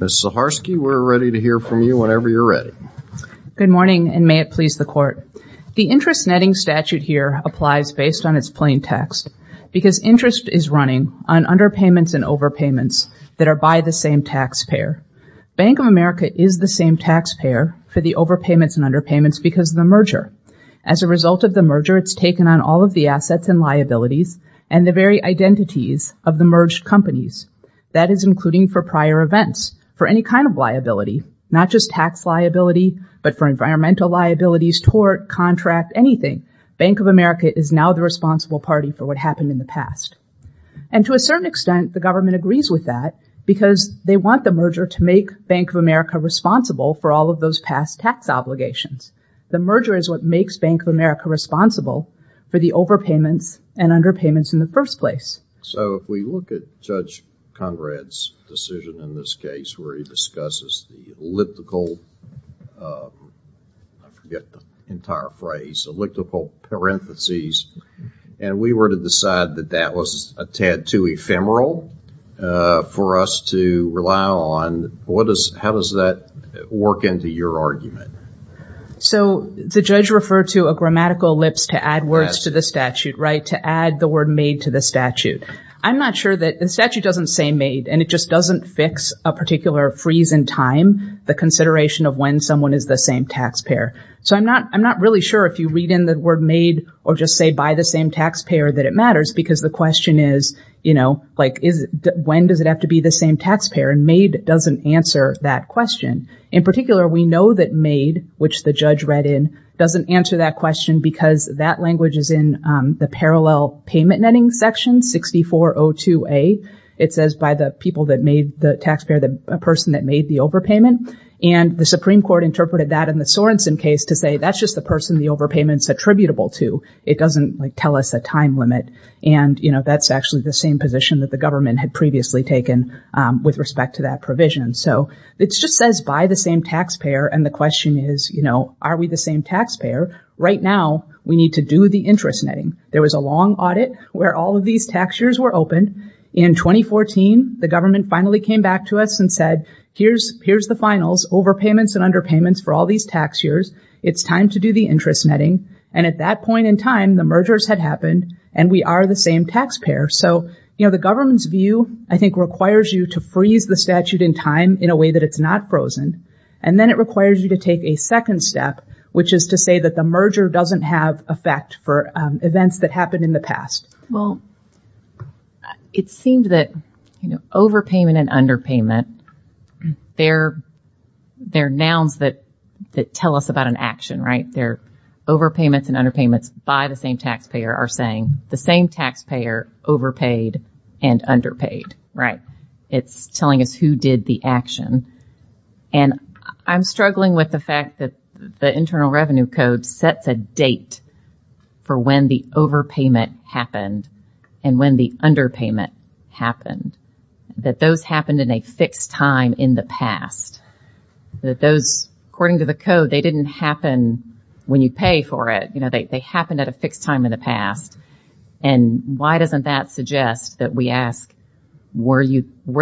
Ms. Zaharsky, we're ready to hear from you whenever you're ready. Good morning, and may it please the Court. The interest netting statute here applies based on its plain text, because interest is running on underpayments and overpayments that are by the same taxpayer. Bank of America is the same taxpayer for the overpayments and underpayments because of the merger. As a result of the merger, it's taken on all of the assets and liabilities and the very identities of the merged companies. That is including for prior events, for any kind of liability, not just tax liability, but for environmental liabilities, tort, contract, anything. Bank of America is now the responsible party for what happened in the past. And to a certain extent, the government agrees with that because they want the merger to make Bank of America responsible for all of those past tax obligations. The merger is what makes Bank of America responsible for the overpayments and underpayments in the first place. So if we look at Judge Conrad's decision in this case where he discusses the elliptical, I forget the entire phrase, elliptical parentheses, and we were to decide that that was a tad too ephemeral for us to rely on. How does that work into your argument? So the judge referred to a grammatical ellipse to add words to the statute, right? To add the word made to the statute. I'm not sure that the statute doesn't say made and it just doesn't fix a particular freeze in time, the consideration of when someone is the same taxpayer. So I'm not really sure if you read in the word made or just say by the same taxpayer that it matters because the question is, you know, like, when does it have to be the same taxpayer? And made doesn't answer that question. In particular, we know that made, which the judge read in, doesn't answer that question because that language is in the parallel payment netting section 6402A. It says by the people that made the taxpayer, the person that made the overpayment. And the Supreme Court interpreted that in the Sorensen case to say that's just the person the overpayment is attributable to. It doesn't tell us a time limit. And that's actually the same position that the government had previously taken with respect to that provision. So it just says by the same taxpayer and the question is, you know, are we the same taxpayer? Right now we need to do the interest netting. There was a long audit where all of these tax years were open. In 2014, the government finally came back to us and said here's the finals, overpayments and underpayments for all these tax years. It's time to do the interest netting. And at that point in time, the mergers had happened and we are the same taxpayer. So, you know, the government's view, I think, requires you to freeze the statute in time in a way that it's not frozen. And then it requires you to take a second step, which is to say that the merger doesn't have effect for events that happened in the past. Well, it seemed that, you know, overpayment and underpayment, they're nouns that tell us about an action, right? They're overpayments and underpayments by the same taxpayer are saying the same taxpayer overpaid and underpaid, right? It's telling us who did the action. And I'm struggling with the fact that the Internal Revenue Code sets a date for when the overpayment happened and when the underpayment happened, that those happened in a fixed time in the past. That those, according to the code, they didn't happen when you pay for it. You know, they happened at a fixed time in the past. And why doesn't that suggest that we ask, were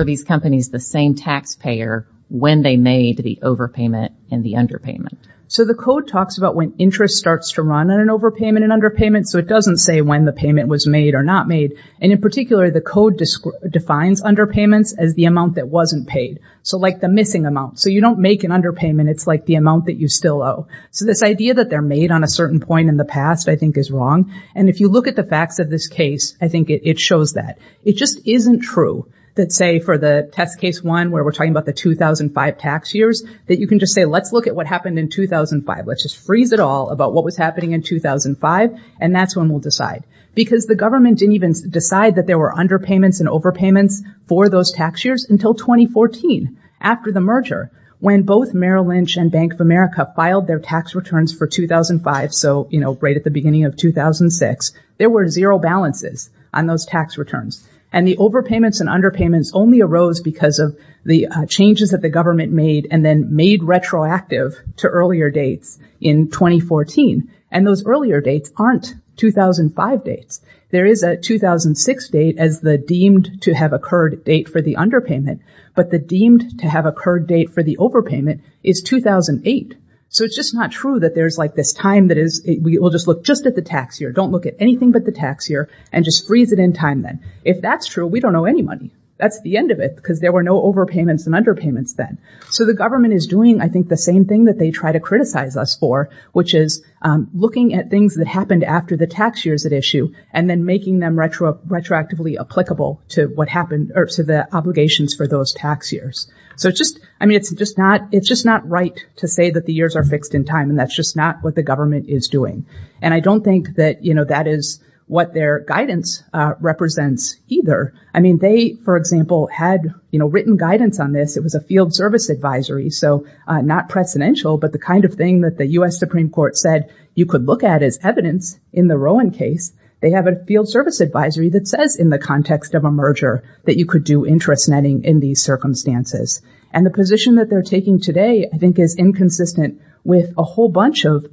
these companies the same taxpayer when they made the overpayment and the underpayment? So, the code talks about when interest starts to run on an overpayment and underpayment. So, it doesn't say when the payment was made or not made. And in particular, the code defines underpayments as the amount that wasn't paid. So, like the missing amount. So, you don't make an underpayment. It's like the amount that you still owe. So, this idea that they're made on a certain point in the past, I think, is wrong. And if you look at the facts of this case, I think it shows that. It just isn't true that, say, for the test case one where we're talking about the 2005 tax years, that you can just say, let's look at what happened in 2005. Let's just freeze it all about what was happening in 2005, and that's when we'll decide. Because the government didn't even decide that there were underpayments and overpayments for those tax years until 2014, after the merger, when both Merrill Lynch and Bank of America filed their tax returns for 2005. So, you know, right at the beginning of 2006, there were zero balances on those tax returns. And the overpayments and underpayments only arose because of the changes that the government made and then made retroactive to earlier dates in 2014. And those earlier dates aren't 2005 dates. There is a 2006 date as the deemed to have occurred date for the underpayment, but the deemed to have occurred date for the overpayment is 2008. So, it's just not true that there's like this time that is, we'll just look just at the tax year, don't look at anything but the tax year, and just freeze it in time then. If that's true, we don't owe any money. That's the end of it because there were no overpayments and underpayments then. So, the government is doing, I think, the same thing that they try to criticize us for, which is looking at things that happened after the tax years at issue and then making them retroactively applicable to what happened or to the obligations for those tax years. So, it's just, I mean, it's just not right to say that the years are fixed in time and that's just not what the government is doing. And I don't think that, you know, that is what their guidance represents either. I mean, they, for example, had, you know, written guidance on this. It was a field service advisory, so not precedential, but the kind of thing that the U.S. Supreme Court said you could look at as evidence in the Rowan case. They have a field service advisory that says in the context of a merger that you could do interest netting in these circumstances. And the position that they're taking today, I think, is inconsistent with a whole bunch of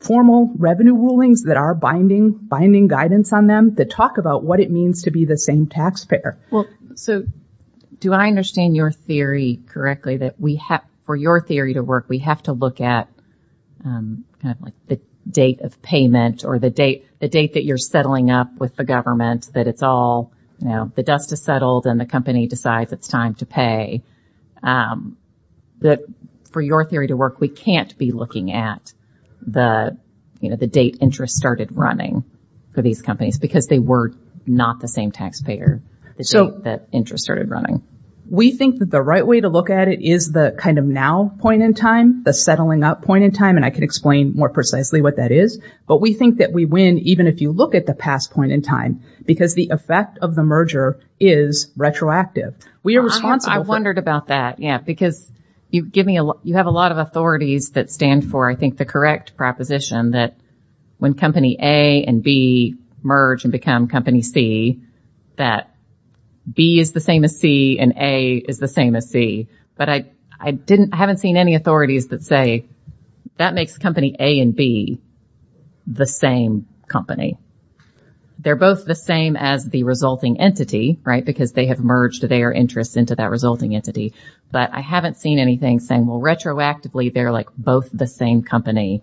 formal revenue rulings that are binding guidance on them that talk about what it means to be the same taxpayer. Well, so, do I understand your theory correctly that we have, for your theory to work, we have to look at kind of like the date of payment or the date, the date that you're settling up with the government, that it's all, you know, the dust is settled and the company decides it's time to pay. For your theory to work, we can't be looking at the, you know, the date interest started running for these companies because they were not the same taxpayer, the date that interest started running. We think that the right way to look at it is the kind of now point in time, the settling up point in time, and I can explain more precisely what that is. But we think that we win even if you look at the past point in time, because the effect of the merger is retroactive. We are responsible for- I wondered about that, yeah, because you give me a lot, you have a lot of authorities that stand for, I think, the correct proposition that when company A and B merge and become company C, that B is the same as C and A is the same as C. But I didn't, I haven't seen any authorities that say that makes company A and B the same company. They're both the same as the resulting entity, right, because they have merged their interests into that resulting entity. But I haven't seen anything saying, well, retroactively, they're like both the same company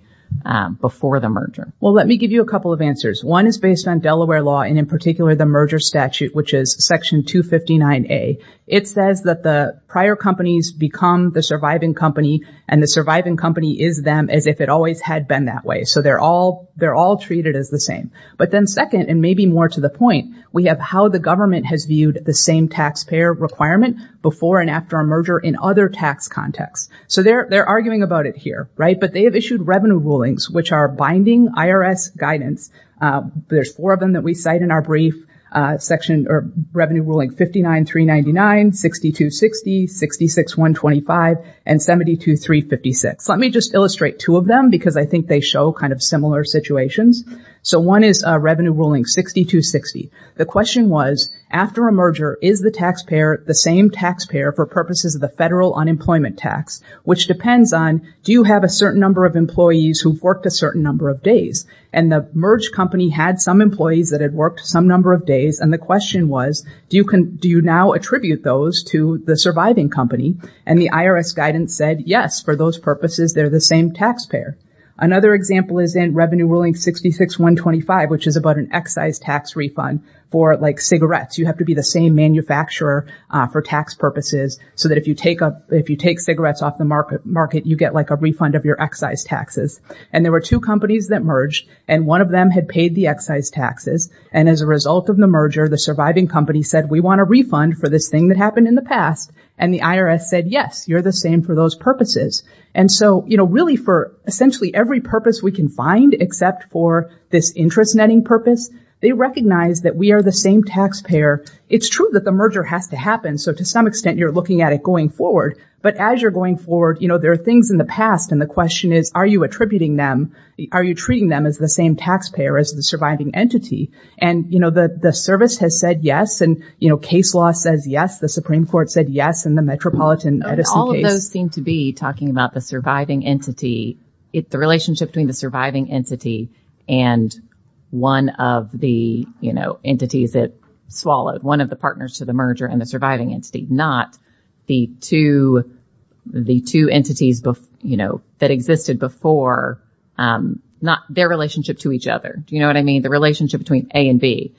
before the merger. Well, let me give you a couple of answers. One is based on Delaware law and in particular the merger statute, which is section 259A. It says that the prior companies become the surviving company and the surviving company is them as if it always had been that way. So they're all, they're all treated as the same. But then second, and maybe more to the point, we have how the government has viewed the same taxpayer requirement before and after a merger in other tax contexts. So they're, they're arguing about it here, right? But they have issued revenue rulings, which are binding IRS guidance. There's four of them that we cite in our brief section or revenue ruling 59-399, 62-60, 66-125, and 72-356. Let me just illustrate two of them because I think they show kind of similar situations. So one is a revenue ruling 62-60. The question was, after a merger, is the taxpayer the same taxpayer for purposes of the federal unemployment tax, which depends on, do you have a certain number of employees who've worked a certain number of days? And the merge company had some employees that had worked some number of days. And the question was, do you can, do you now attribute those to the surviving company? And the IRS guidance said, yes, for those purposes, they're the same taxpayer. Another example is in revenue ruling 66-125, which is about an excise tax refund for like cigarettes. You have to be the same manufacturer for tax purposes so that if you take up, if you take cigarettes off the market, you get like a refund of your excise taxes. And there were two companies that merged and one of them had paid the excise taxes. And as a result of the merger, the surviving company said, we want a refund for this thing that happened in the past. And the IRS said, yes, you're the same for those purposes. And so, you know, really for essentially every purpose we can find, except for this interest netting purpose, they recognize that we are the same taxpayer. It's true that the merger has to happen. So to some extent, you're looking at it going forward. But as you're going forward, you know, there are things in the past and the question is, are you attributing them? Are you treating them as the same taxpayer as the surviving entity? And, you know, the service has said yes. And, you know, case law says, yes, the Supreme Court said yes in the Metropolitan Edison case. All of those seem to be talking about the surviving entity, the relationship between the surviving entity and one of the, you know, entities that swallowed, one of the partners to the merger and the surviving entity, not the two, the two entities, you know, that existed before, not their relationship to each other. Do you know what I mean? The relationship between A and B,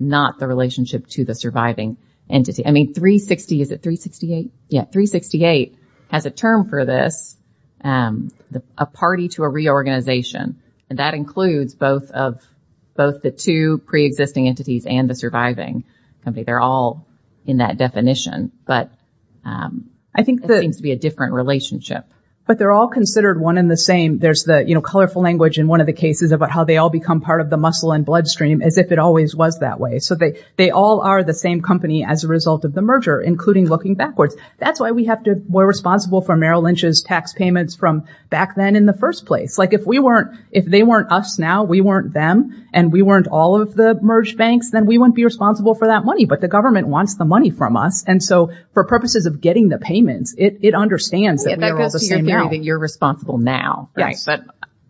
not the relationship to the surviving entity. I mean, 360, is it 368? Yeah. 368 has a term for this, a party to a reorganization. And that includes both of both the two preexisting entities and the surviving. They're all in that definition. But I think that seems to be a different relationship. But they're all considered one in the same. There's the, you know, colorful language in one of the cases about how they all become part of the muscle and bloodstream as if it always was that way. So they all are the same company as a result of the merger, including looking backwards. That's why we have to, we're responsible for Merrill Lynch's tax payments from back then in the first place. Like if we weren't, if they weren't us now, we weren't them and we weren't all of the merged banks, then we wouldn't be responsible for that money. But the government wants the money from us. And so for purposes of getting the payments, it understands that we are all the same now. I think you're responsible now. But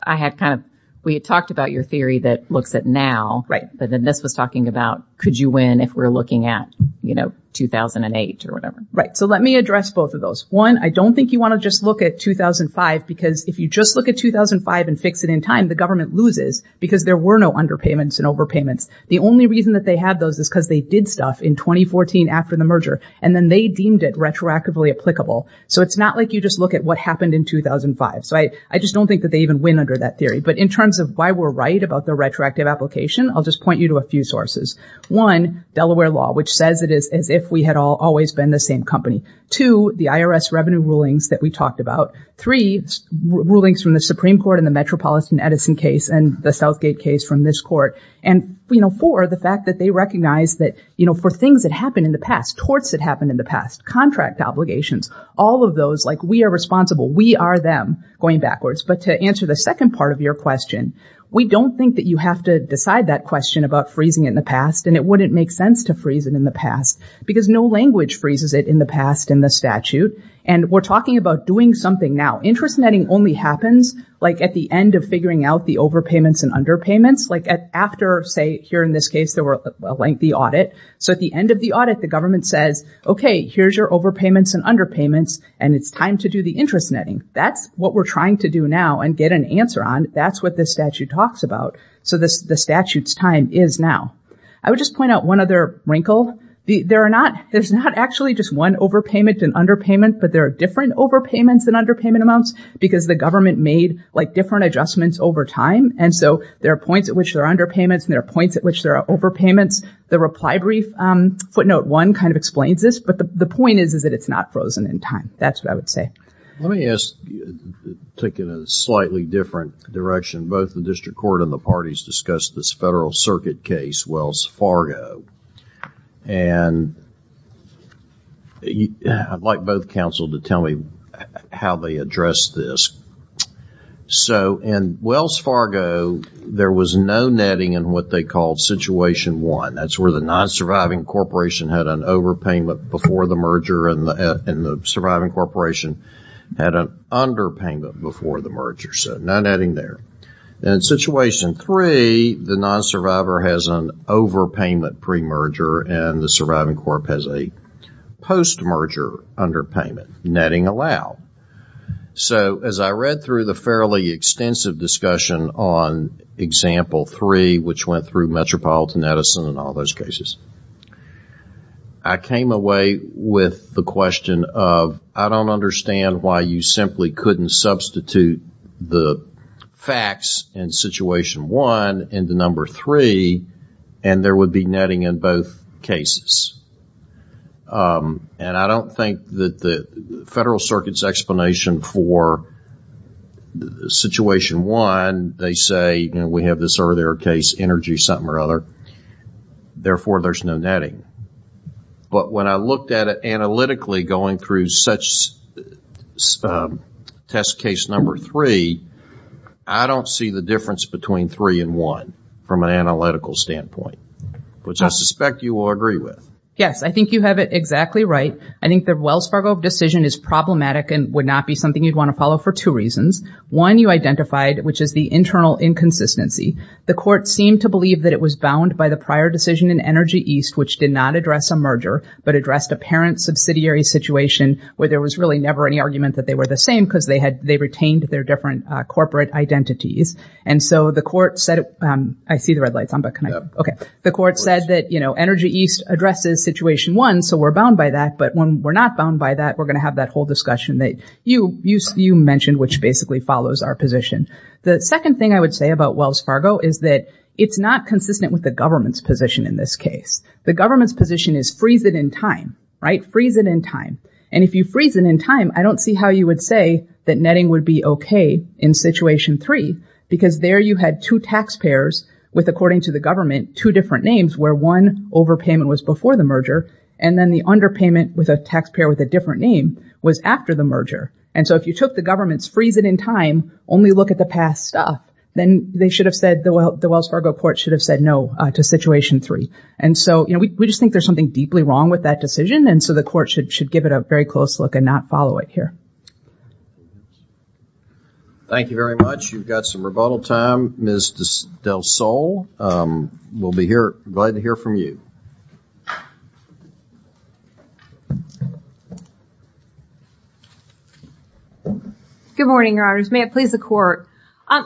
I had kind of, we had talked about your theory that looks at now, but then this was talking about, could you win if we're looking at, you know, 2008 or whatever. Right. So let me address both of those. One, I don't think you want to just look at 2005 because if you just look at 2005 and fix it in time, the government loses because there were no underpayments and overpayments. The only reason that they had those is because they did stuff in 2014 after the merger and then they deemed it retroactively applicable. So it's not like you just look at what happened in 2005. So I just don't think that they even win under that theory. But in terms of why we're right about the retroactive application, I'll just point you to a few sources. One, Delaware law, which says it is as if we had all always been the same company. Two, the IRS revenue rulings that we talked about. Three, rulings from the Supreme Court in the Metropolitan Edison case and the Southgate case from this court. And, you know, for the fact that they recognize that, you know, for things that happened in the past, torts that happened in the past, contract obligations, all of those, like we are responsible. We are them going backwards. But to answer the second part of your question, we don't think that you have to decide that question about freezing in the past and it wouldn't make sense to freeze it in the past because no language freezes it in the past in the statute. And we're talking about doing something now. Interest netting only happens like at the end of figuring out the overpayments and underpayments, like after, say here in this case, there were a lengthy audit. So at the end of the audit, the government says, okay, here's your overpayments and underpayments and it's time to do the interest netting. That's what we're trying to do now and get an answer on. That's what the statute talks about. So the statute's time is now. I would just point out one other wrinkle. There are not, there's not actually just one overpayment and underpayment, but there are different overpayments than underpayment amounts because the government made like different adjustments over time. And so there are points at which there are underpayments and there are points at which there are overpayments. The reply brief footnote one kind of explains this, but the point is, is that it's not frozen in time. That's what I would say. Let me ask, take it a slightly different direction. Both the district court and the parties discussed this federal circuit case, Wells Fargo. And I'd like both counsel to tell me how they addressed this. So in Wells Fargo, there was no netting in what they called situation one. That's where the non-surviving corporation had an overpayment before the merger and the surviving corporation had an underpayment before the merger. So no netting there. In situation three, the non-survivor has an overpayment pre-merger and the surviving corp has a post-merger underpayment. Netting allowed. So as I read through the fairly extensive discussion on example three, which went through metropolitan Edison and all those cases, I came away with the question of, I don't understand why you simply couldn't substitute the facts in situation one in the number three and there would be netting in both cases. And I don't think that the federal circuit's explanation for situation one, they say, we have this earlier case, energy something or other, therefore there's no netting. But when I looked at it analytically going through such test case number three, I don't see the difference between three and one from an analytical standpoint, which I suspect you will agree with. Yes, I think you have it exactly right. I think the Wells Fargo decision is problematic and would not be something you'd want to follow for two reasons. One, you identified, which is the internal inconsistency. The court seemed to believe that it was bound by the prior decision in Energy East, which did not address a merger, but addressed a parent subsidiary situation where there was really never any argument that they were the same because they retained their different corporate identities. And so the court said, I see the red lights on, but can I? Okay. The court said that Energy East addresses situation one, so we're bound by that. But when we're not bound by that, we're going to have that whole discussion that you mentioned, which basically follows our position. The second thing I would say about Wells Fargo is that it's not consistent with the government's position. In this case, the government's position is freeze it in time, right? Freeze it in time. And if you freeze it in time, I don't see how you would say that netting would be okay in situation three because there you had two taxpayers with, according to the government, two different names where one overpayment was before the merger. And then the underpayment with a taxpayer with a different name was after the merger. And so if you took the government's freeze it in time, only look at the past stuff, then they should have said, the Wells Fargo court should have said no to situation three. And so, you know, we just think there's something deeply wrong with that decision. And so the court should give it a very close look and not follow it here. Thank you very much. You've got some rebuttal time. Ms. Del Sol, we'll be glad to hear from you. Good morning, Your Honors. May it please the court.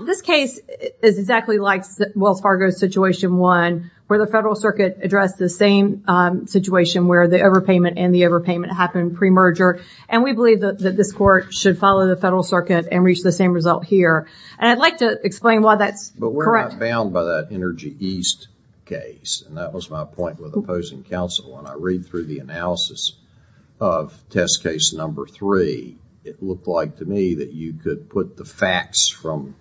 This case is exactly like Wells Fargo's situation one where the federal circuit addressed the same situation where the overpayment and the overpayment happened pre-merger. And we believe that this court should follow the federal circuit and reach the same result here. And I'd like to explain why that's correct. You're not bound by that Energy East case. And that was my point with opposing counsel. When I read through the analysis of test case number three, it looked like to me that you could put the facts from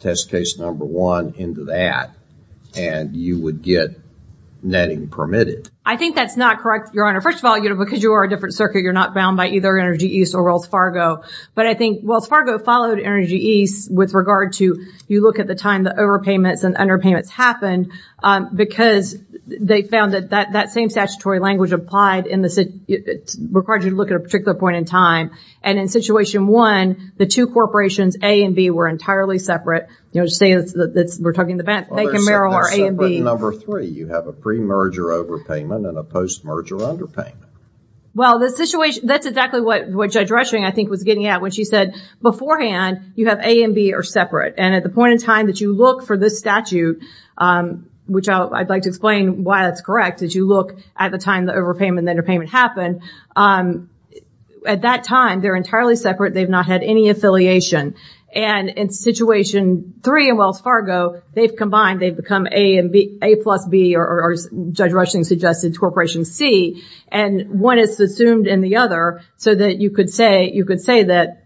test case number one into that and you would get netting permitted. I think that's not correct, Your Honor. First of all, because you are a different circuit, you're not bound by either Energy East or Wells Fargo. But I think Wells Fargo followed Energy East with regard to, you look at the time the overpayments and underpayments happened because they found that that same statutory language applied in the, required you to look at a particular point in time. And in situation one, the two corporations, A and B, were entirely separate. You know, just saying that we're talking about Bank of Maryland or A and B. Number three, you have a pre-merger overpayment and a post-merger underpayment. Well, the situation, that's exactly what Judge Rushing, I think, was getting at when she said, beforehand, you have A and B are separate. And at the point in time that you look for this statute, which I'd like to explain why that's correct, is you look at the time the overpayment and underpayment happened. At that time, they're entirely separate. They've not had any affiliation. And in situation three in Wells Fargo, they've combined, they've become A and B, A plus B, or as Judge Rushing suggested, corporation C. And one is assumed and the other, so that you could say, you could say that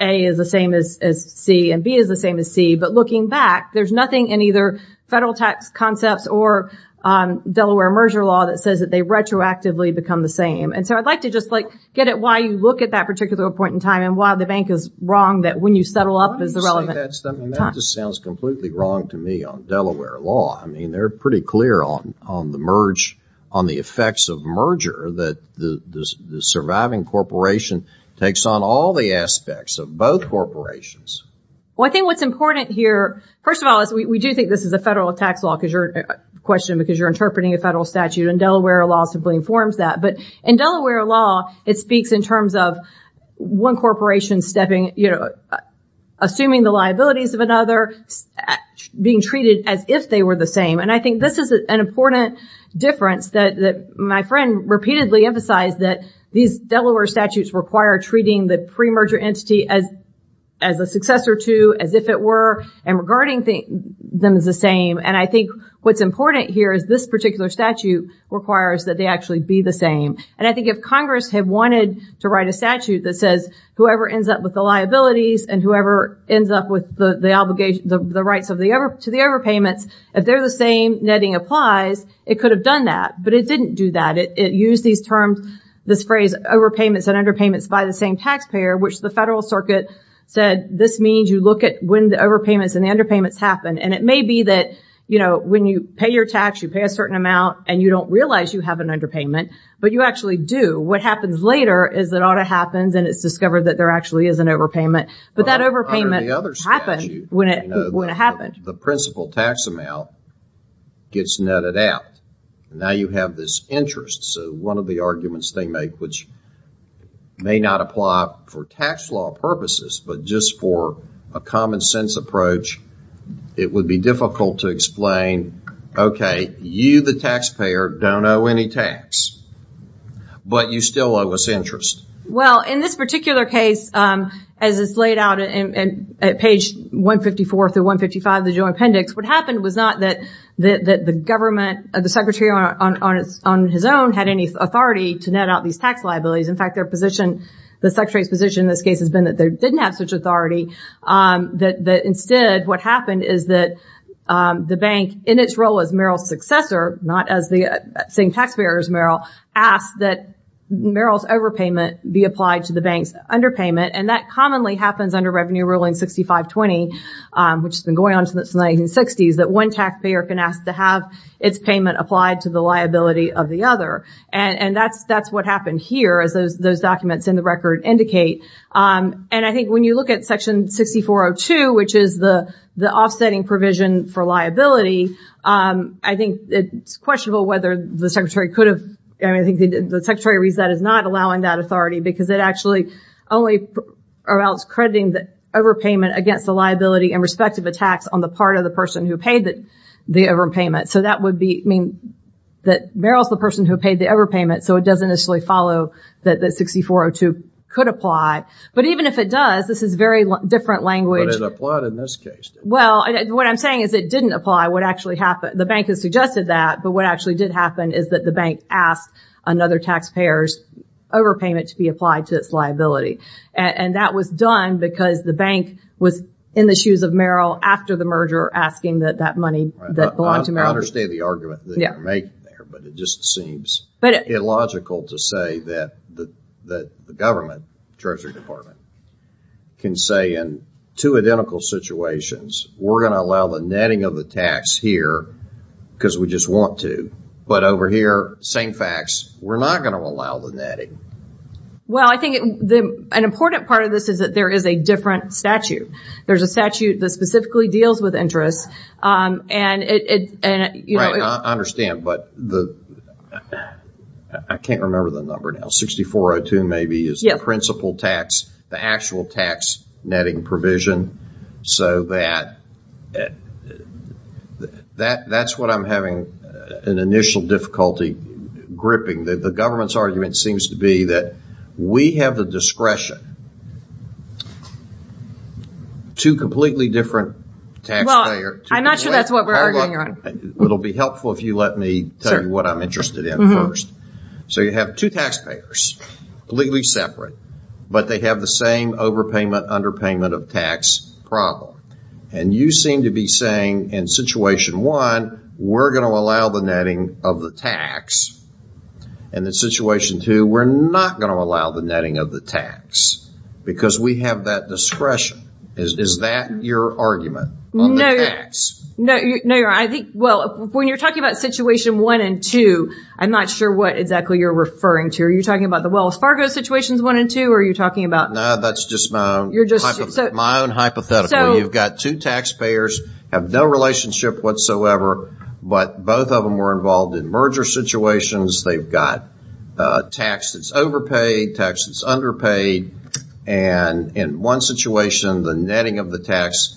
A is the same as C and B is the same as C. But looking back, there's nothing in either federal tax concepts or Delaware merger law that says that they retroactively become the same. And so, I'd like to just, like, get at why you look at that particular point in time and why the bank is wrong that when you settle up is the relevant time. That just sounds completely wrong to me on Delaware law. I mean, they're pretty clear on the merge, on the effects of merger that the surviving corporation takes on all the aspects of both corporations. Well, I think what's important here, first of all, is we do think this is a federal tax law question because you're interpreting a federal statute. And Delaware law simply informs that. But in Delaware law, it speaks in terms of one corporation stepping, you know, assuming the liabilities of another, being treated as if they were the same. And I think this is an important difference that my friend repeatedly emphasized, that these Delaware statutes require treating the pre-merger entity as a successor to, as if it were, and regarding them as the same. And I think what's important here is this particular statute requires that they actually be the same. And I think if Congress had wanted to write a statute that says whoever ends up with the liabilities and whoever ends up with the obligation, the rights to the overpayments, if they're the same, netting applies, it could have done that. But it didn't do that. It used these terms, this phrase, overpayments and underpayments by the same taxpayer, which the federal circuit said, this means you look at when the overpayments and the underpayments happen. And it may be that, you know, when you pay your tax, you pay a certain amount and you don't realize you have an underpayment, but you actually do. What happens later is that it ought to happen and it's discovered that there actually is an overpayment. But that overpayment happened when it happened. The principal tax amount gets netted out. Now you have this interest. So one of the arguments they make, which may not apply for tax law purposes, but just for a common sense approach, it would be difficult to explain, okay, you the taxpayer don't owe any tax, but you still owe us interest. Well, in this particular case, as it's laid out at page 154 through 155 of the joint appendix, what happened was not that the government, the secretary on his own had any authority to net out these tax liabilities. In fact, their position, the secretary's position in this case has been that they didn't have such authority, that instead what happened is that the bank, in its role as Merrill's successor, not as the same taxpayer as Merrill, asked that Merrill's overpayment be applied to the bank's underpayment. And that commonly happens under Revenue Ruling 6520, which has been going on since the 1960s, that one taxpayer can ask to have its payment applied to the liability of the other. And that's what happened here as those documents in the record indicate. And I think when you look at Section 6402, which is the offsetting provision for liability, I think it's questionable whether the secretary could have, I mean, I think the secretary reads that as not allowing that authority because it actually only allows crediting the overpayment against the liability and respective attacks on the part of the person who paid the overpayment. So that would be, I mean, that Merrill's the person who paid the overpayment, so it doesn't necessarily follow that the 6402 could apply. But even if it does, this is very different language. But it applied in this case. Well, what I'm saying is it didn't apply. What actually happened, the bank has suggested that, but what actually did happen is that the bank asked another taxpayer's overpayment to be applied to its liability. And that was done because the bank was in the shoes of Merrill after the merger asking that that money that belonged to Merrill. I understand the argument that you're making there, but it just seems illogical to say that the government, Treasury Department, can say in two identical situations, we're going to allow the netting of the tax here because we just want to. But over here, same facts, we're not going to allow the netting. Well, I think an important part of this is that there is a different statute. There's a statute that specifically deals with interest and it, you know... I understand, but I can't remember the number now. 6402 maybe is the principal tax, the actual tax netting provision. So that's what I'm having an initial difficulty gripping. The government's argument seems to be that we have the discretion to completely different taxpayer... I'm not sure that's what we're arguing on. It'll be helpful if you let me tell you what I'm interested in first. So you have two taxpayers, legally separate, but they have the same overpayment, underpayment of tax problem. And you seem to be saying in situation one, we're going to allow the netting of the tax. And in situation two, we're not going to allow the netting of the tax because we have that discretion. Is that your argument on the tax? No, you're right. I think, well, when you're talking about situation one and two, I'm not sure what exactly you're referring to. Are you talking about the Wells Fargo situations one and two or are you talking about... No, that's just my own hypothetical. You've got two taxpayers, have no relationship whatsoever, but both of them were involved in merger situations. They've got tax that's overpaid, tax that's underpaid. And in one situation, the netting of the tax,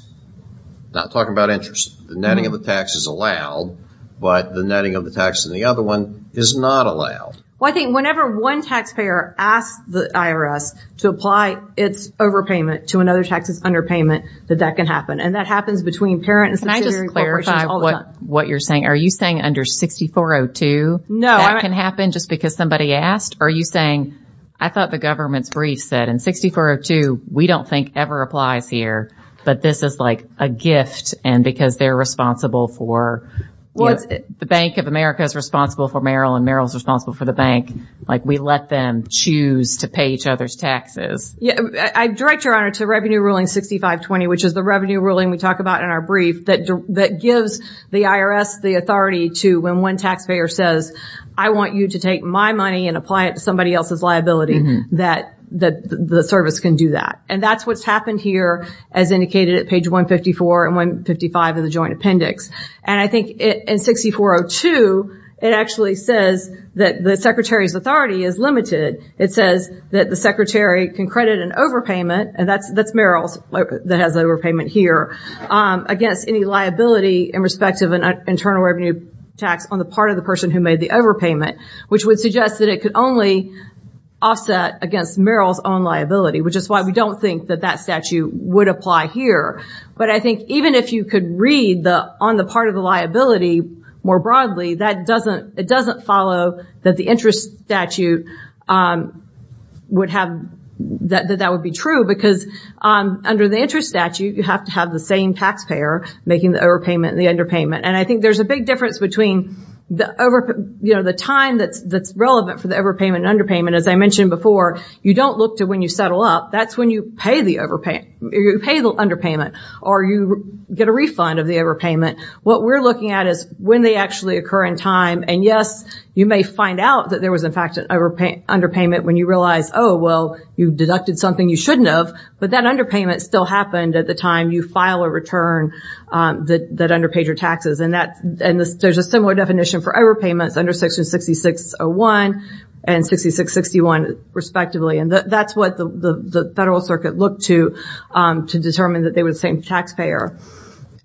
not talking about interest, the netting of the tax is allowed, but the netting of the tax in the other one is not allowed. Well, I think whenever one taxpayer asks the IRS to apply its overpayment to another tax that's underpayment, that that can happen. And that happens between parent and subsidiary corporations all the time. Can I just clarify what you're saying? Are you saying under 6402 that can happen just because somebody asked? Are you saying, I thought the government's brief said in 6402, we don't think ever applies here, but this is like a gift and because they're responsible for... The Bank of America is responsible for Merrill and Merrill's responsible for the bank. We let them choose to pay each other's taxes. Yeah. I direct your honor to Revenue Ruling 6520, which is the revenue ruling we talk about in our brief that gives the IRS the authority to, when one taxpayer says, I want you to take my money and apply it to somebody else's liability, that the service can do that. And that's what's happened here as indicated at page 154 and 155 of the joint appendix. And I think in 6402, it actually says that the secretary's authority is limited. It says that the secretary can credit an overpayment and that's Merrill's that has overpayment here against any liability in respect of an internal revenue tax on the part of the person who made the overpayment, which would suggest that it could only offset against Merrill's own liability, which is why we don't think that that statute would apply here. But I think even if you could read on the part of the liability more broadly, it doesn't follow that the interest statute would have... That that would be true because under the interest statute, you have to have the same taxpayer making the overpayment and the underpayment. And I think there's a big difference between the time that's relevant for the overpayment and underpayment. As I mentioned before, you don't look to when you settle up, that's when you pay the underpayment or you get a refund of the overpayment. What we're looking at is when they actually occur in time. And yes, you may find out that there was in fact an underpayment when you realize, oh, well, you deducted something you shouldn't have, but that underpayment still happened at the time you file a return that underpaid your taxes. And there's a similar definition for overpayments under section 6601 and 6661, respectively. And that's what the federal circuit looked to determine that they were the same taxpayer.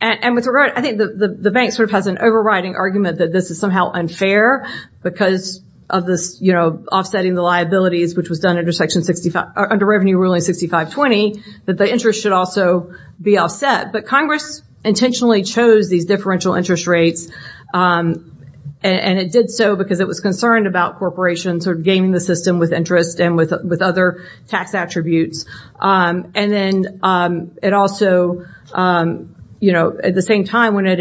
And I think the bank sort of has an overriding argument that this is somehow unfair because of this offsetting the liabilities, which was done under Revenue Ruling 6520, that the interest should also be offset. But Congress intentionally chose these differential interest rates and it did so because it was concerned about corporations sort of gaming the system with interest and with other tax attributes. And then it also, at the same time when it was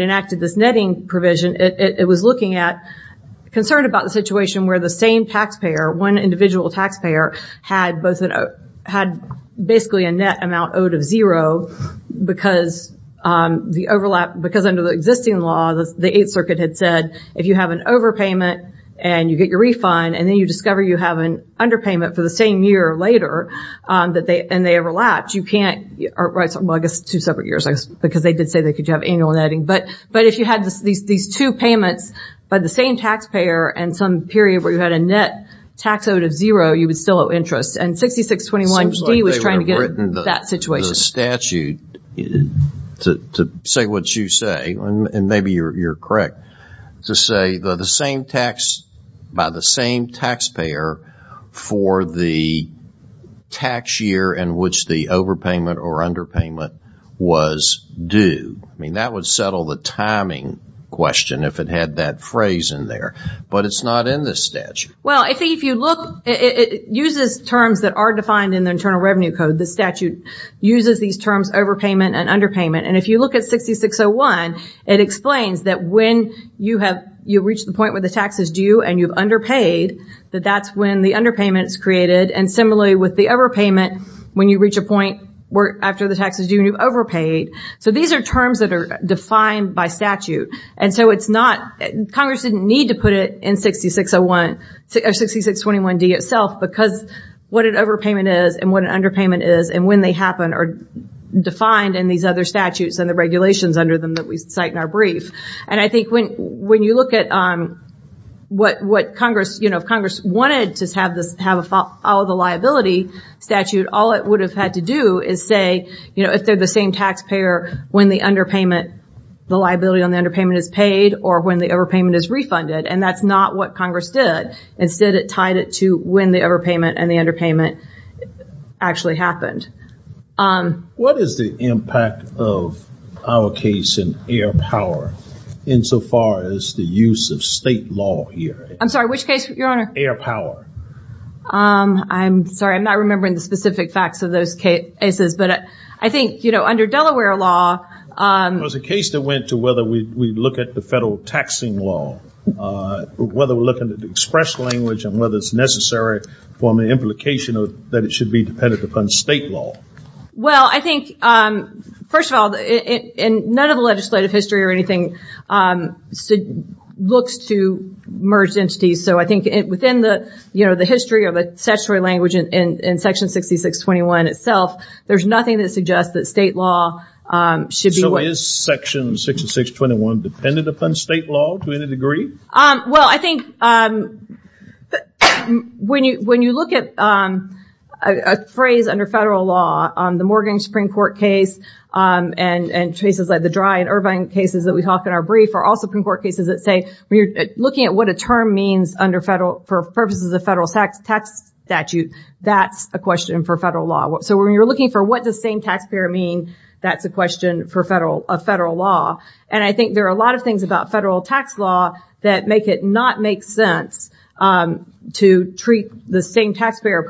a situation where the same taxpayer, one individual taxpayer had basically a net amount owed of zero because the overlap, because under the existing law, the Eighth Circuit had said if you have an overpayment and you get your refund and then you discover you have an underpayment for the same year later and they overlapped, you can't, well, I guess two separate years, because they did say that you could have annual netting. But if you had these two payments by the same taxpayer and some period where you had a net tax out of zero, you would still owe interest. And 6621D was trying to get that situation. The statute, to say what you say, and maybe you're correct, to say the same tax by the same taxpayer for the tax year in which the overpayment or underpayment was due. I mean, that would settle the timing question if it had that phrase in there. But it's not in this statute. Well, I think if you look, it uses terms that are defined in the Internal Revenue Code. The statute uses these terms overpayment and underpayment. And if you look at 6601, it explains that when you have, you reach the point where the tax is due and you've underpaid, that that's when the underpayment is created. And similarly with the overpayment, when you reach a point after the tax is due and you've overpaid. So these are terms that are defined by statute. And so it's not, Congress didn't need to put it in 6601, 6621D itself because what an overpayment is and what an underpayment is and when they happen are defined in these other statutes and the regulations under them that we cite in our brief. And I think when you look at what Congress, you know, if Congress wanted to have all the liability statute, all it would have had to do is say, you know, if they're the same taxpayer, when the underpayment, the liability on the underpayment is paid or when the overpayment is refunded. And that's not what Congress did. Instead, it tied it to when the overpayment and the underpayment actually happened. What is the impact of our case in air power insofar as the use of state law here? I'm sorry, which case, Your Honor? Air power. I'm sorry, I'm not remembering the specific facts of those cases, but I think, you know, under Delaware law. It was a case that went to whether we look at the federal taxing law, whether we're looking at the express language and whether it's necessary for an implication that it should be dependent upon state law. Well, I think, first of all, none of the legislative history or anything looks to merged entities. So I think within the, you know, the history of a statutory language in Section 6621 itself, there's nothing that suggests that state law should be what... So is Section 6621 dependent upon state law to any degree? Well, I think when you look at a phrase under federal law on the Morgan Supreme Court case and cases like the Dry and Irvine cases that we talk in our brief are also Supreme Court cases that say, when you're looking at what a term means under federal, for purposes of federal tax statute, that's a question for federal law. So when you're looking for what does same taxpayer mean, that's a question for federal law. And I think there are a lot of things about federal tax law that make it not make sense to treat the same taxpayer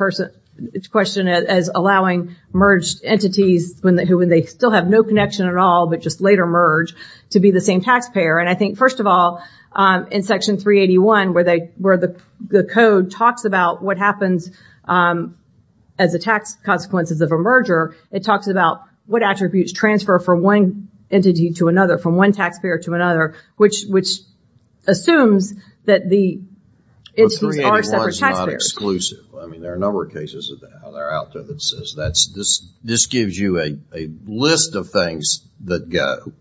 question as allowing merged entities when they still have no connection at all, but just later merge to be the same taxpayer. And I think, first of all, in Section 381 where the code talks about what happens as a tax consequences of a merger, it talks about what attributes transfer from one entity to another, from one taxpayer to another, which assumes that the entities are separate taxpayers. But 381 is not exclusive. I mean, there are a number of cases of that out there that says this gives you a list of things that go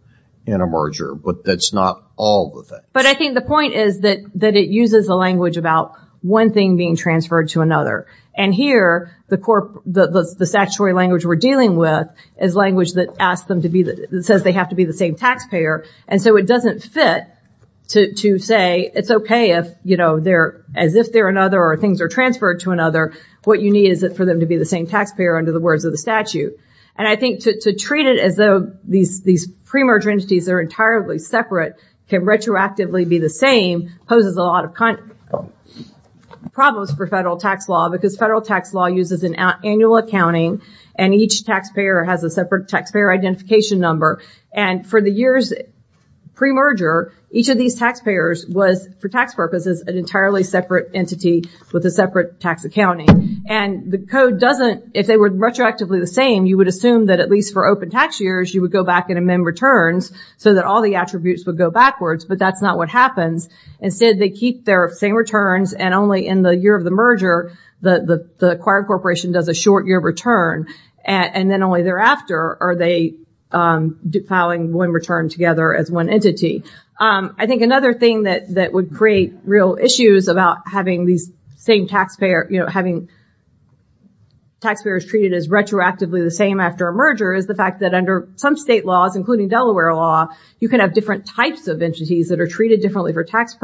in a merger, but that's not all the things. But I think the point is that it uses a language about one thing being transferred to another. And here, the statutory language we're dealing with is language that says they have to be the same taxpayer. And so it doesn't fit to say it's okay if, as if they're another or things are transferred to another, what you need is for them to be the same taxpayer under the words of the statute. And I think to treat it as though these pre-merger entities are entirely separate, can retroactively be the same, poses a lot of problems for federal tax law, because federal tax law uses an annual accounting and each taxpayer has a separate taxpayer identification number. And for the years pre-merger, each of these taxpayers was, for tax purposes, an entirely separate entity with a separate tax accounting. And the code doesn't, if they were retroactively the same, you would assume that at least for open tax years, you would go back and amend returns so that all the attributes would go backwards, but that's not what happens. Instead, they keep their same returns and only in the year of the merger, the acquired corporation does a short year return. And then only thereafter are they filing one return together as one entity. I think another thing that would create real issues about having these same taxpayer, you know, having taxpayers treated as retroactively the same after a merger is the fact that under some state laws, including Delaware law, you can have different types of entities that are treated differently for tax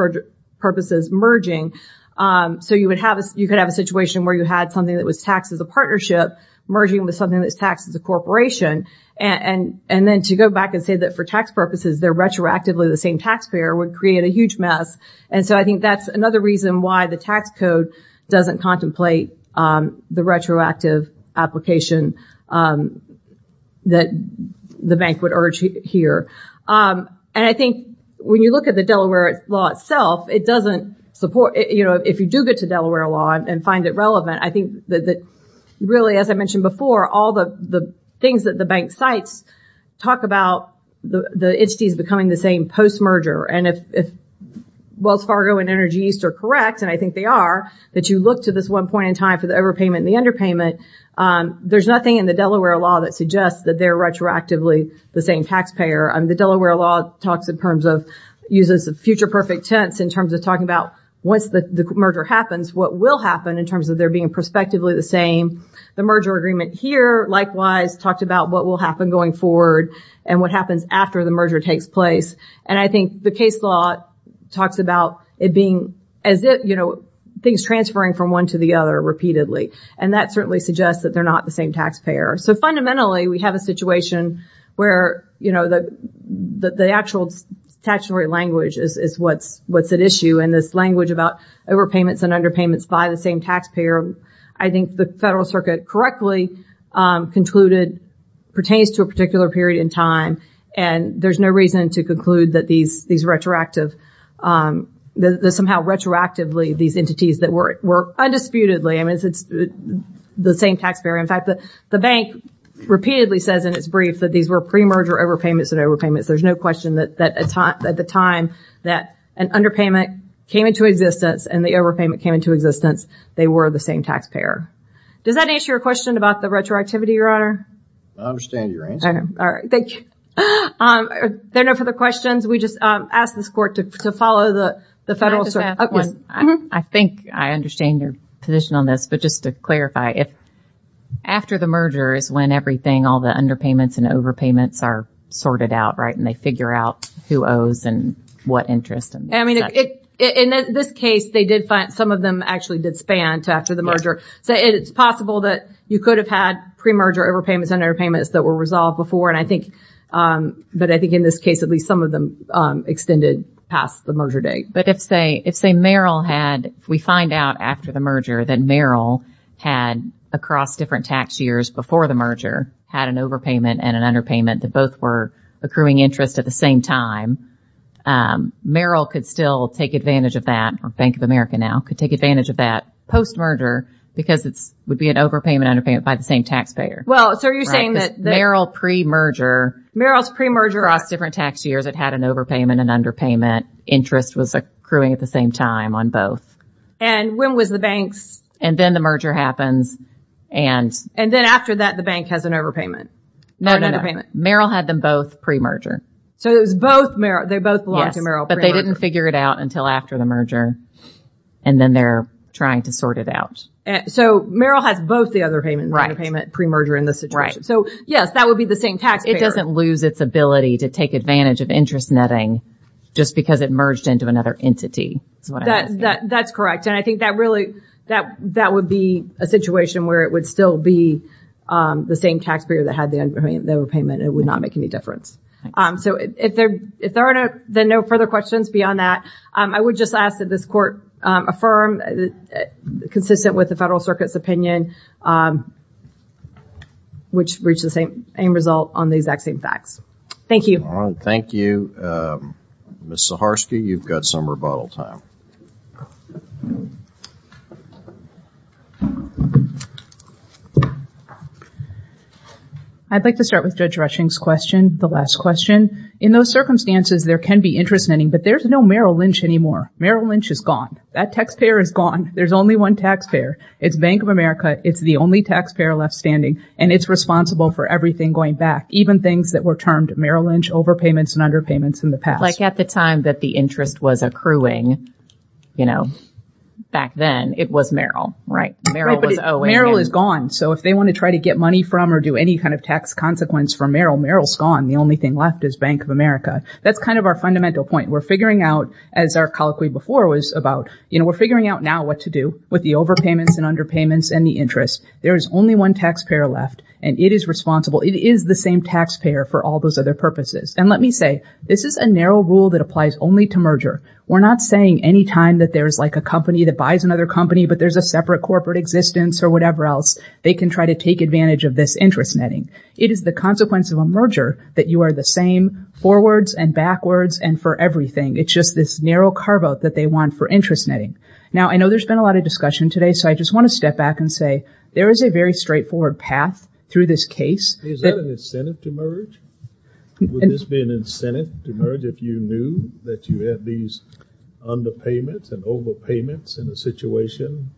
purposes merging. So you could have a situation where you had something that was taxed as a partnership merging with something that's taxed as a corporation. And then to go back and say that for tax purposes, they're retroactively the same taxpayer would create a huge mess. And so I think that's another reason why the tax code doesn't contemplate the retroactive application that the bank would urge here. And I think when you look at the Delaware law itself, it doesn't support, you know, if you do get to Delaware law and find it relevant, I think that really, as I mentioned before, all the things that the bank cites talk about the entities becoming the same post-merger. And if Wells Fargo and Energy East are correct, and I think they are, that you look to this one point in time for the overpayment and the underpayment, there's nothing in the Delaware law that suggests that they're retroactively the same taxpayer. I mean, the Delaware law talks in terms of, uses the future perfect tense in terms of talking about once the merger happens, what will happen in terms of there being prospectively the same, the merger agreement here, likewise talked about what will happen going forward and what happens after the merger takes place. And I think the case law talks about it being as if, you know, things transferring from one to the other repeatedly. And that certainly suggests that they're not the same taxpayer. So fundamentally we have a situation where, you know, the actual statutory language is what's at issue. And this language about overpayments and underpayments by the same taxpayer, I think the federal circuit correctly concluded pertains to a particular period in time. And there's no reason to conclude that these, these retroactive, that somehow retroactively these entities that were, were undisputedly, I mean, it's the same taxpayer. In fact, the bank repeatedly says in its brief that these were pre-merger overpayments and overpayments. There's no question that, that at the time that an underpayment came into existence and the overpayment came into existence, they were the same taxpayer. Does that answer your question about the retroactivity, Your Honor? I understand your answer. All right. Thank you. Um, are there no further questions? We just, um, ask this court to, to follow the, the federal circuit. I think I understand your position on this, but just to clarify, if after the merger is when everything, all the underpayments and overpayments are sorted out, right? And they figure out who owes and what interest. And I mean, in this case, they did find some of them actually did span to after the merger. So it's possible that you could have had pre-merger overpayments and underpayments that were resolved before. And I think, um, but I think in this case, at least some of them, um, extended past the merger date. But if say, if say Merrill had, we find out after the merger that Merrill had across different tax years before the merger, had an overpayment and an underpayment that both were accruing interest at the same time, um, Merrill could still take advantage of that or Bank of America now could take advantage of that post-merger because it's, would be an overpayment underpayment by the same taxpayer. Well, so you're saying that Merrill pre-merger, Merrill's pre-merger across different tax years, it had an overpayment and underpayment interest was accruing at the same time on both. And when was the banks? And then the merger happens. And, and then after that, the bank has an overpayment. No, Merrill had them both pre-merger. So it was both Merrill. They both belong to Merrill. But they didn't figure it out until after the merger. And then they're trying to sort it out. So Merrill has both the underpayment and underpayment pre-merger in this situation. So yes, that would be the same taxpayer. It doesn't lose its ability to take advantage of interest netting just because it merged into another entity. So that's correct. And I think that really, that, that would be a situation where it would still be the same taxpayer that had the underpayment, the overpayment and it would not make any difference. So if there, if there are no further questions beyond that, I would just ask that this court affirm consistent with the federal circuit's opinion, which reached the same result on the exact same facts. Thank you. Thank you. Ms. Zaharsky, you've got some rebuttal time. I'd like to start with Judge Rushing's question, the last question. In those circumstances, there can be interest netting, but there's no Merrill Lynch anymore. Merrill Lynch is gone. That taxpayer is gone. There's only one taxpayer. It's Bank of America. It's the only taxpayer left standing. And it's responsible for everything going back, even things that were termed Merrill Lynch overpayments and underpayments in the past. Like at the time that the interest was accruing, you know, back then it was Merrill. Right. Merrill is gone. So if they want to try to get money from or do any kind of tax consequence for Merrill, Merrill's gone. The only thing left is Bank of America. That's kind of our fundamental point. We're figuring out, as our colloquy before was about, you know, we're figuring out now what to do with the overpayments and underpayments and the interest. There is only one taxpayer left and it is responsible. It is the same taxpayer for all those other purposes. And let me say, this is a narrow rule that applies only to merger. We're not saying any time that there is like a company that buys another company, but there's a separate corporate existence or whatever else. They can try to take advantage of this interest netting. It is the consequence of a merger that you are the same forwards and backwards and for everything. It's just this narrow car vote that they want for interest netting. Now, I know there's been a lot of discussion today. So I just want to step back and say there is a very straightforward path through this case. Is that an incentive to merge? Would this be an incentive to merge if you knew that you had these underpayments and overpayments in a situation?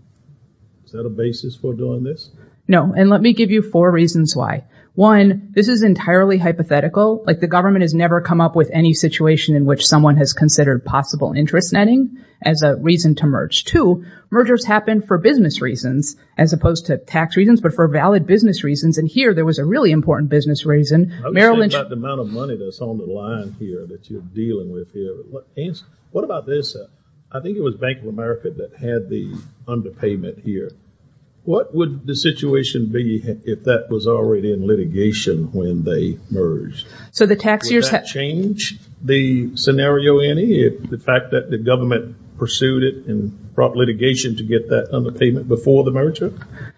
Is that a basis for doing this? No. And let me give you four reasons why. One, this is entirely hypothetical. Like the government has never come up with any situation in which someone has considered possible interest netting as a reason to merge. Two, mergers happen for business reasons as opposed to tax reasons, but for valid business reasons. And here there was a really important business reason. I'm talking about the amount of money that's on the line here that you're dealing with here. What about this? I think it was Bank of America that had the underpayment here. What would the situation be if that was already in litigation when they merged? So the tax years have changed the scenario in the fact that the government pursued it and brought litigation to get that underpayment before the merger?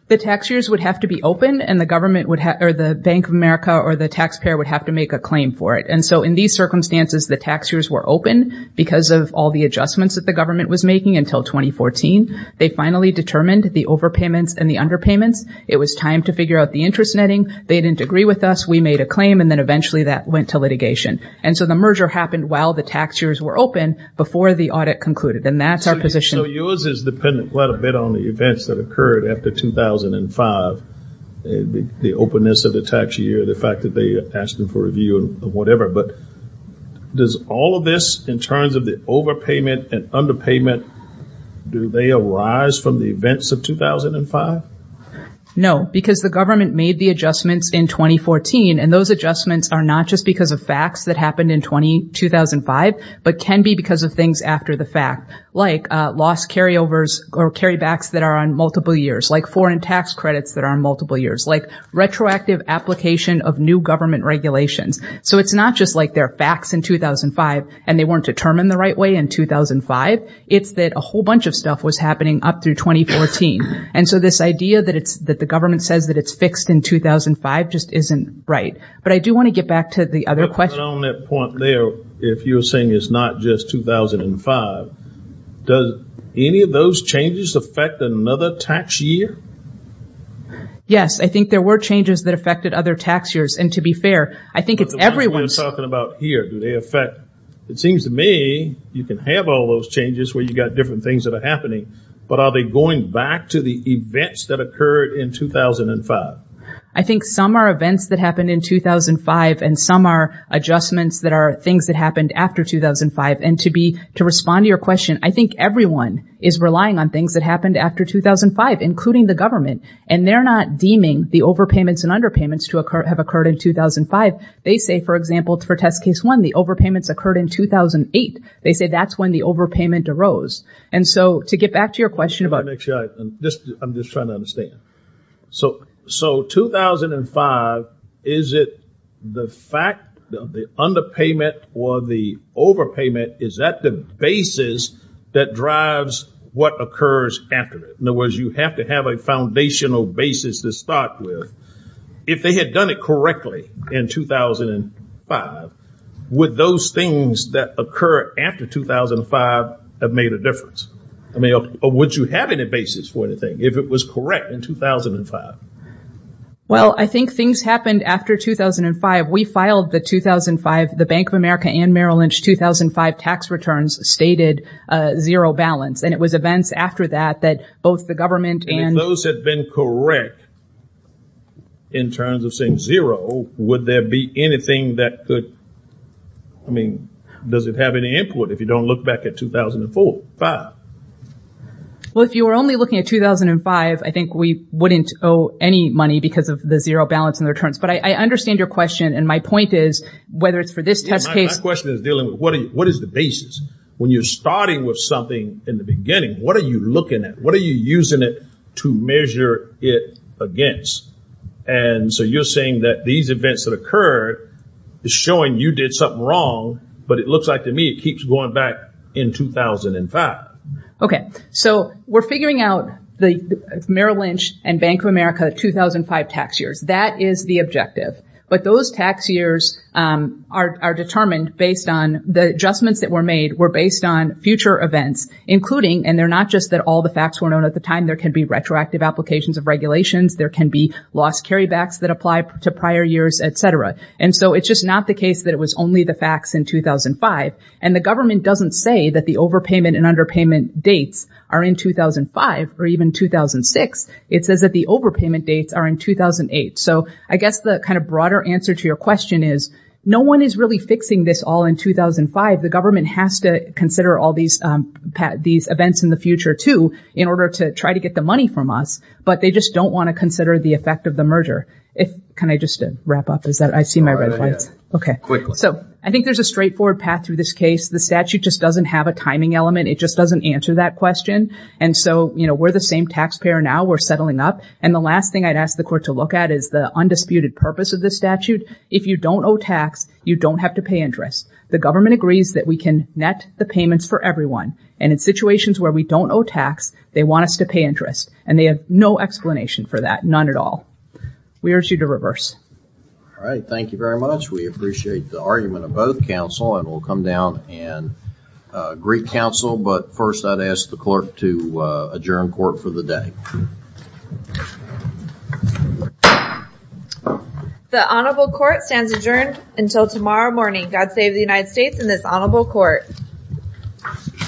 The tax years would have to be open and the government or the Bank of America or the taxpayer would have to make a claim for it. And so in these circumstances, the tax years were open because of all the adjustments that the government was making until 2014. They finally determined the overpayments and the underpayments. It was time to figure out the interest netting. They didn't agree with us. We made a claim. And then eventually that went to litigation. And so the merger happened while the tax years were open before the audit concluded. And that's our position. So yours is dependent quite a bit on the events that occurred after 2005, the openness of the tax year, the fact that they asked them for review and whatever. But does all of this in terms of the overpayment and underpayment, do they arise from the events of 2005? No, because the government made the adjustments in 2014. And those adjustments are not just because of facts that happened in 2005, but can be because of things after the fact, like lost carryovers or carrybacks that are on multiple years, like foreign tax credits that are on multiple years, like retroactive application of new government regulations. So it's not just like they're facts in 2005 and they weren't determined the right way in 2005. It's that a whole bunch of stuff was happening up through 2014. And so this idea that the government says that it's fixed in 2005 just isn't right. But I do want to get back to the other question. And on that point there, if you're saying it's not just 2005, does any of those changes affect another tax year? Yes, I think there were changes that affected other tax years. And to be fair, I think it's everyone's talking about here. Do they affect? It seems to me you can have all those changes where you've got different things that are happening. But are they going back to the events that occurred in 2005? I think some are events that happened in 2005 and some are adjustments that are things that happened after 2005. And to be to respond to your question, I think everyone is relying on things that happened after 2005, including the government. And they're not deeming the overpayments and underpayments to have occurred in 2005. They say, for example, for test case one, the overpayments occurred in 2008. They say that's when the overpayment arose. And so to get back to your question about. I'm just trying to understand. So 2005, is it the fact that the underpayment or the overpayment, is that the basis that drives what occurs after it? In other words, you have to have a foundational basis to start with. If they had done it correctly in 2005, would those things that occur after 2005 have made a difference? I mean, would you have any basis for anything if it was correct in 2005? Well, I think things happened after 2005. We filed the 2005, the Bank of America and Merrill Lynch, 2005 tax returns stated zero balance. And it was events after that that both the government and those had been correct. In terms of saying zero, would there be anything that could. I mean, does it have any input if you don't look back at 2004? Well, if you were only looking at 2005, I think we wouldn't owe any money because of the zero balance in the returns. But I understand your question. And my point is, whether it's for this test case. My question is dealing with what is the basis when you're starting with something in the beginning? What are you looking at? What are you using it to measure it against? And so you're saying that these events that occurred is showing you did something wrong. But it looks like to me it keeps going back in 2005. OK, so we're figuring out the Merrill Lynch and Bank of America 2005 tax years. That is the objective. But those tax years are determined based on the adjustments that were made, were based on future events, including and they're not just that all the facts were known at the time. There can be retroactive applications of regulations. There can be lost carrybacks that apply to prior years, et cetera. And so it's just not the case that it was only the facts in 2005. And the government doesn't say that the overpayment and underpayment dates are in 2005 or even 2006. It says that the overpayment dates are in 2008. So I guess the kind of broader answer to your question is no one is really fixing this all in 2005. The government has to consider all these these events in the future, too, in order to try to get the money from us. But they just don't want to consider the effect of the merger. Can I just wrap up? I see my red flags. OK, so I think there's a straightforward path through this case. The statute just doesn't have a timing element. It just doesn't answer that question. And so, you know, we're the same taxpayer now. We're settling up. And the last thing I'd ask the court to look at is the undisputed purpose of this statute. If you don't owe tax, you don't have to pay interest. The government agrees that we can net the payments for everyone. And in situations where we don't owe tax, they want us to pay interest. And they have no explanation for that, none at all. We urge you to reverse. All right. Thank you very much. We appreciate the argument of both counsel and we'll come down and greet counsel. But first, I'd ask the clerk to adjourn court for the day. The honorable court stands adjourned until tomorrow morning. God save the United States and this honorable court.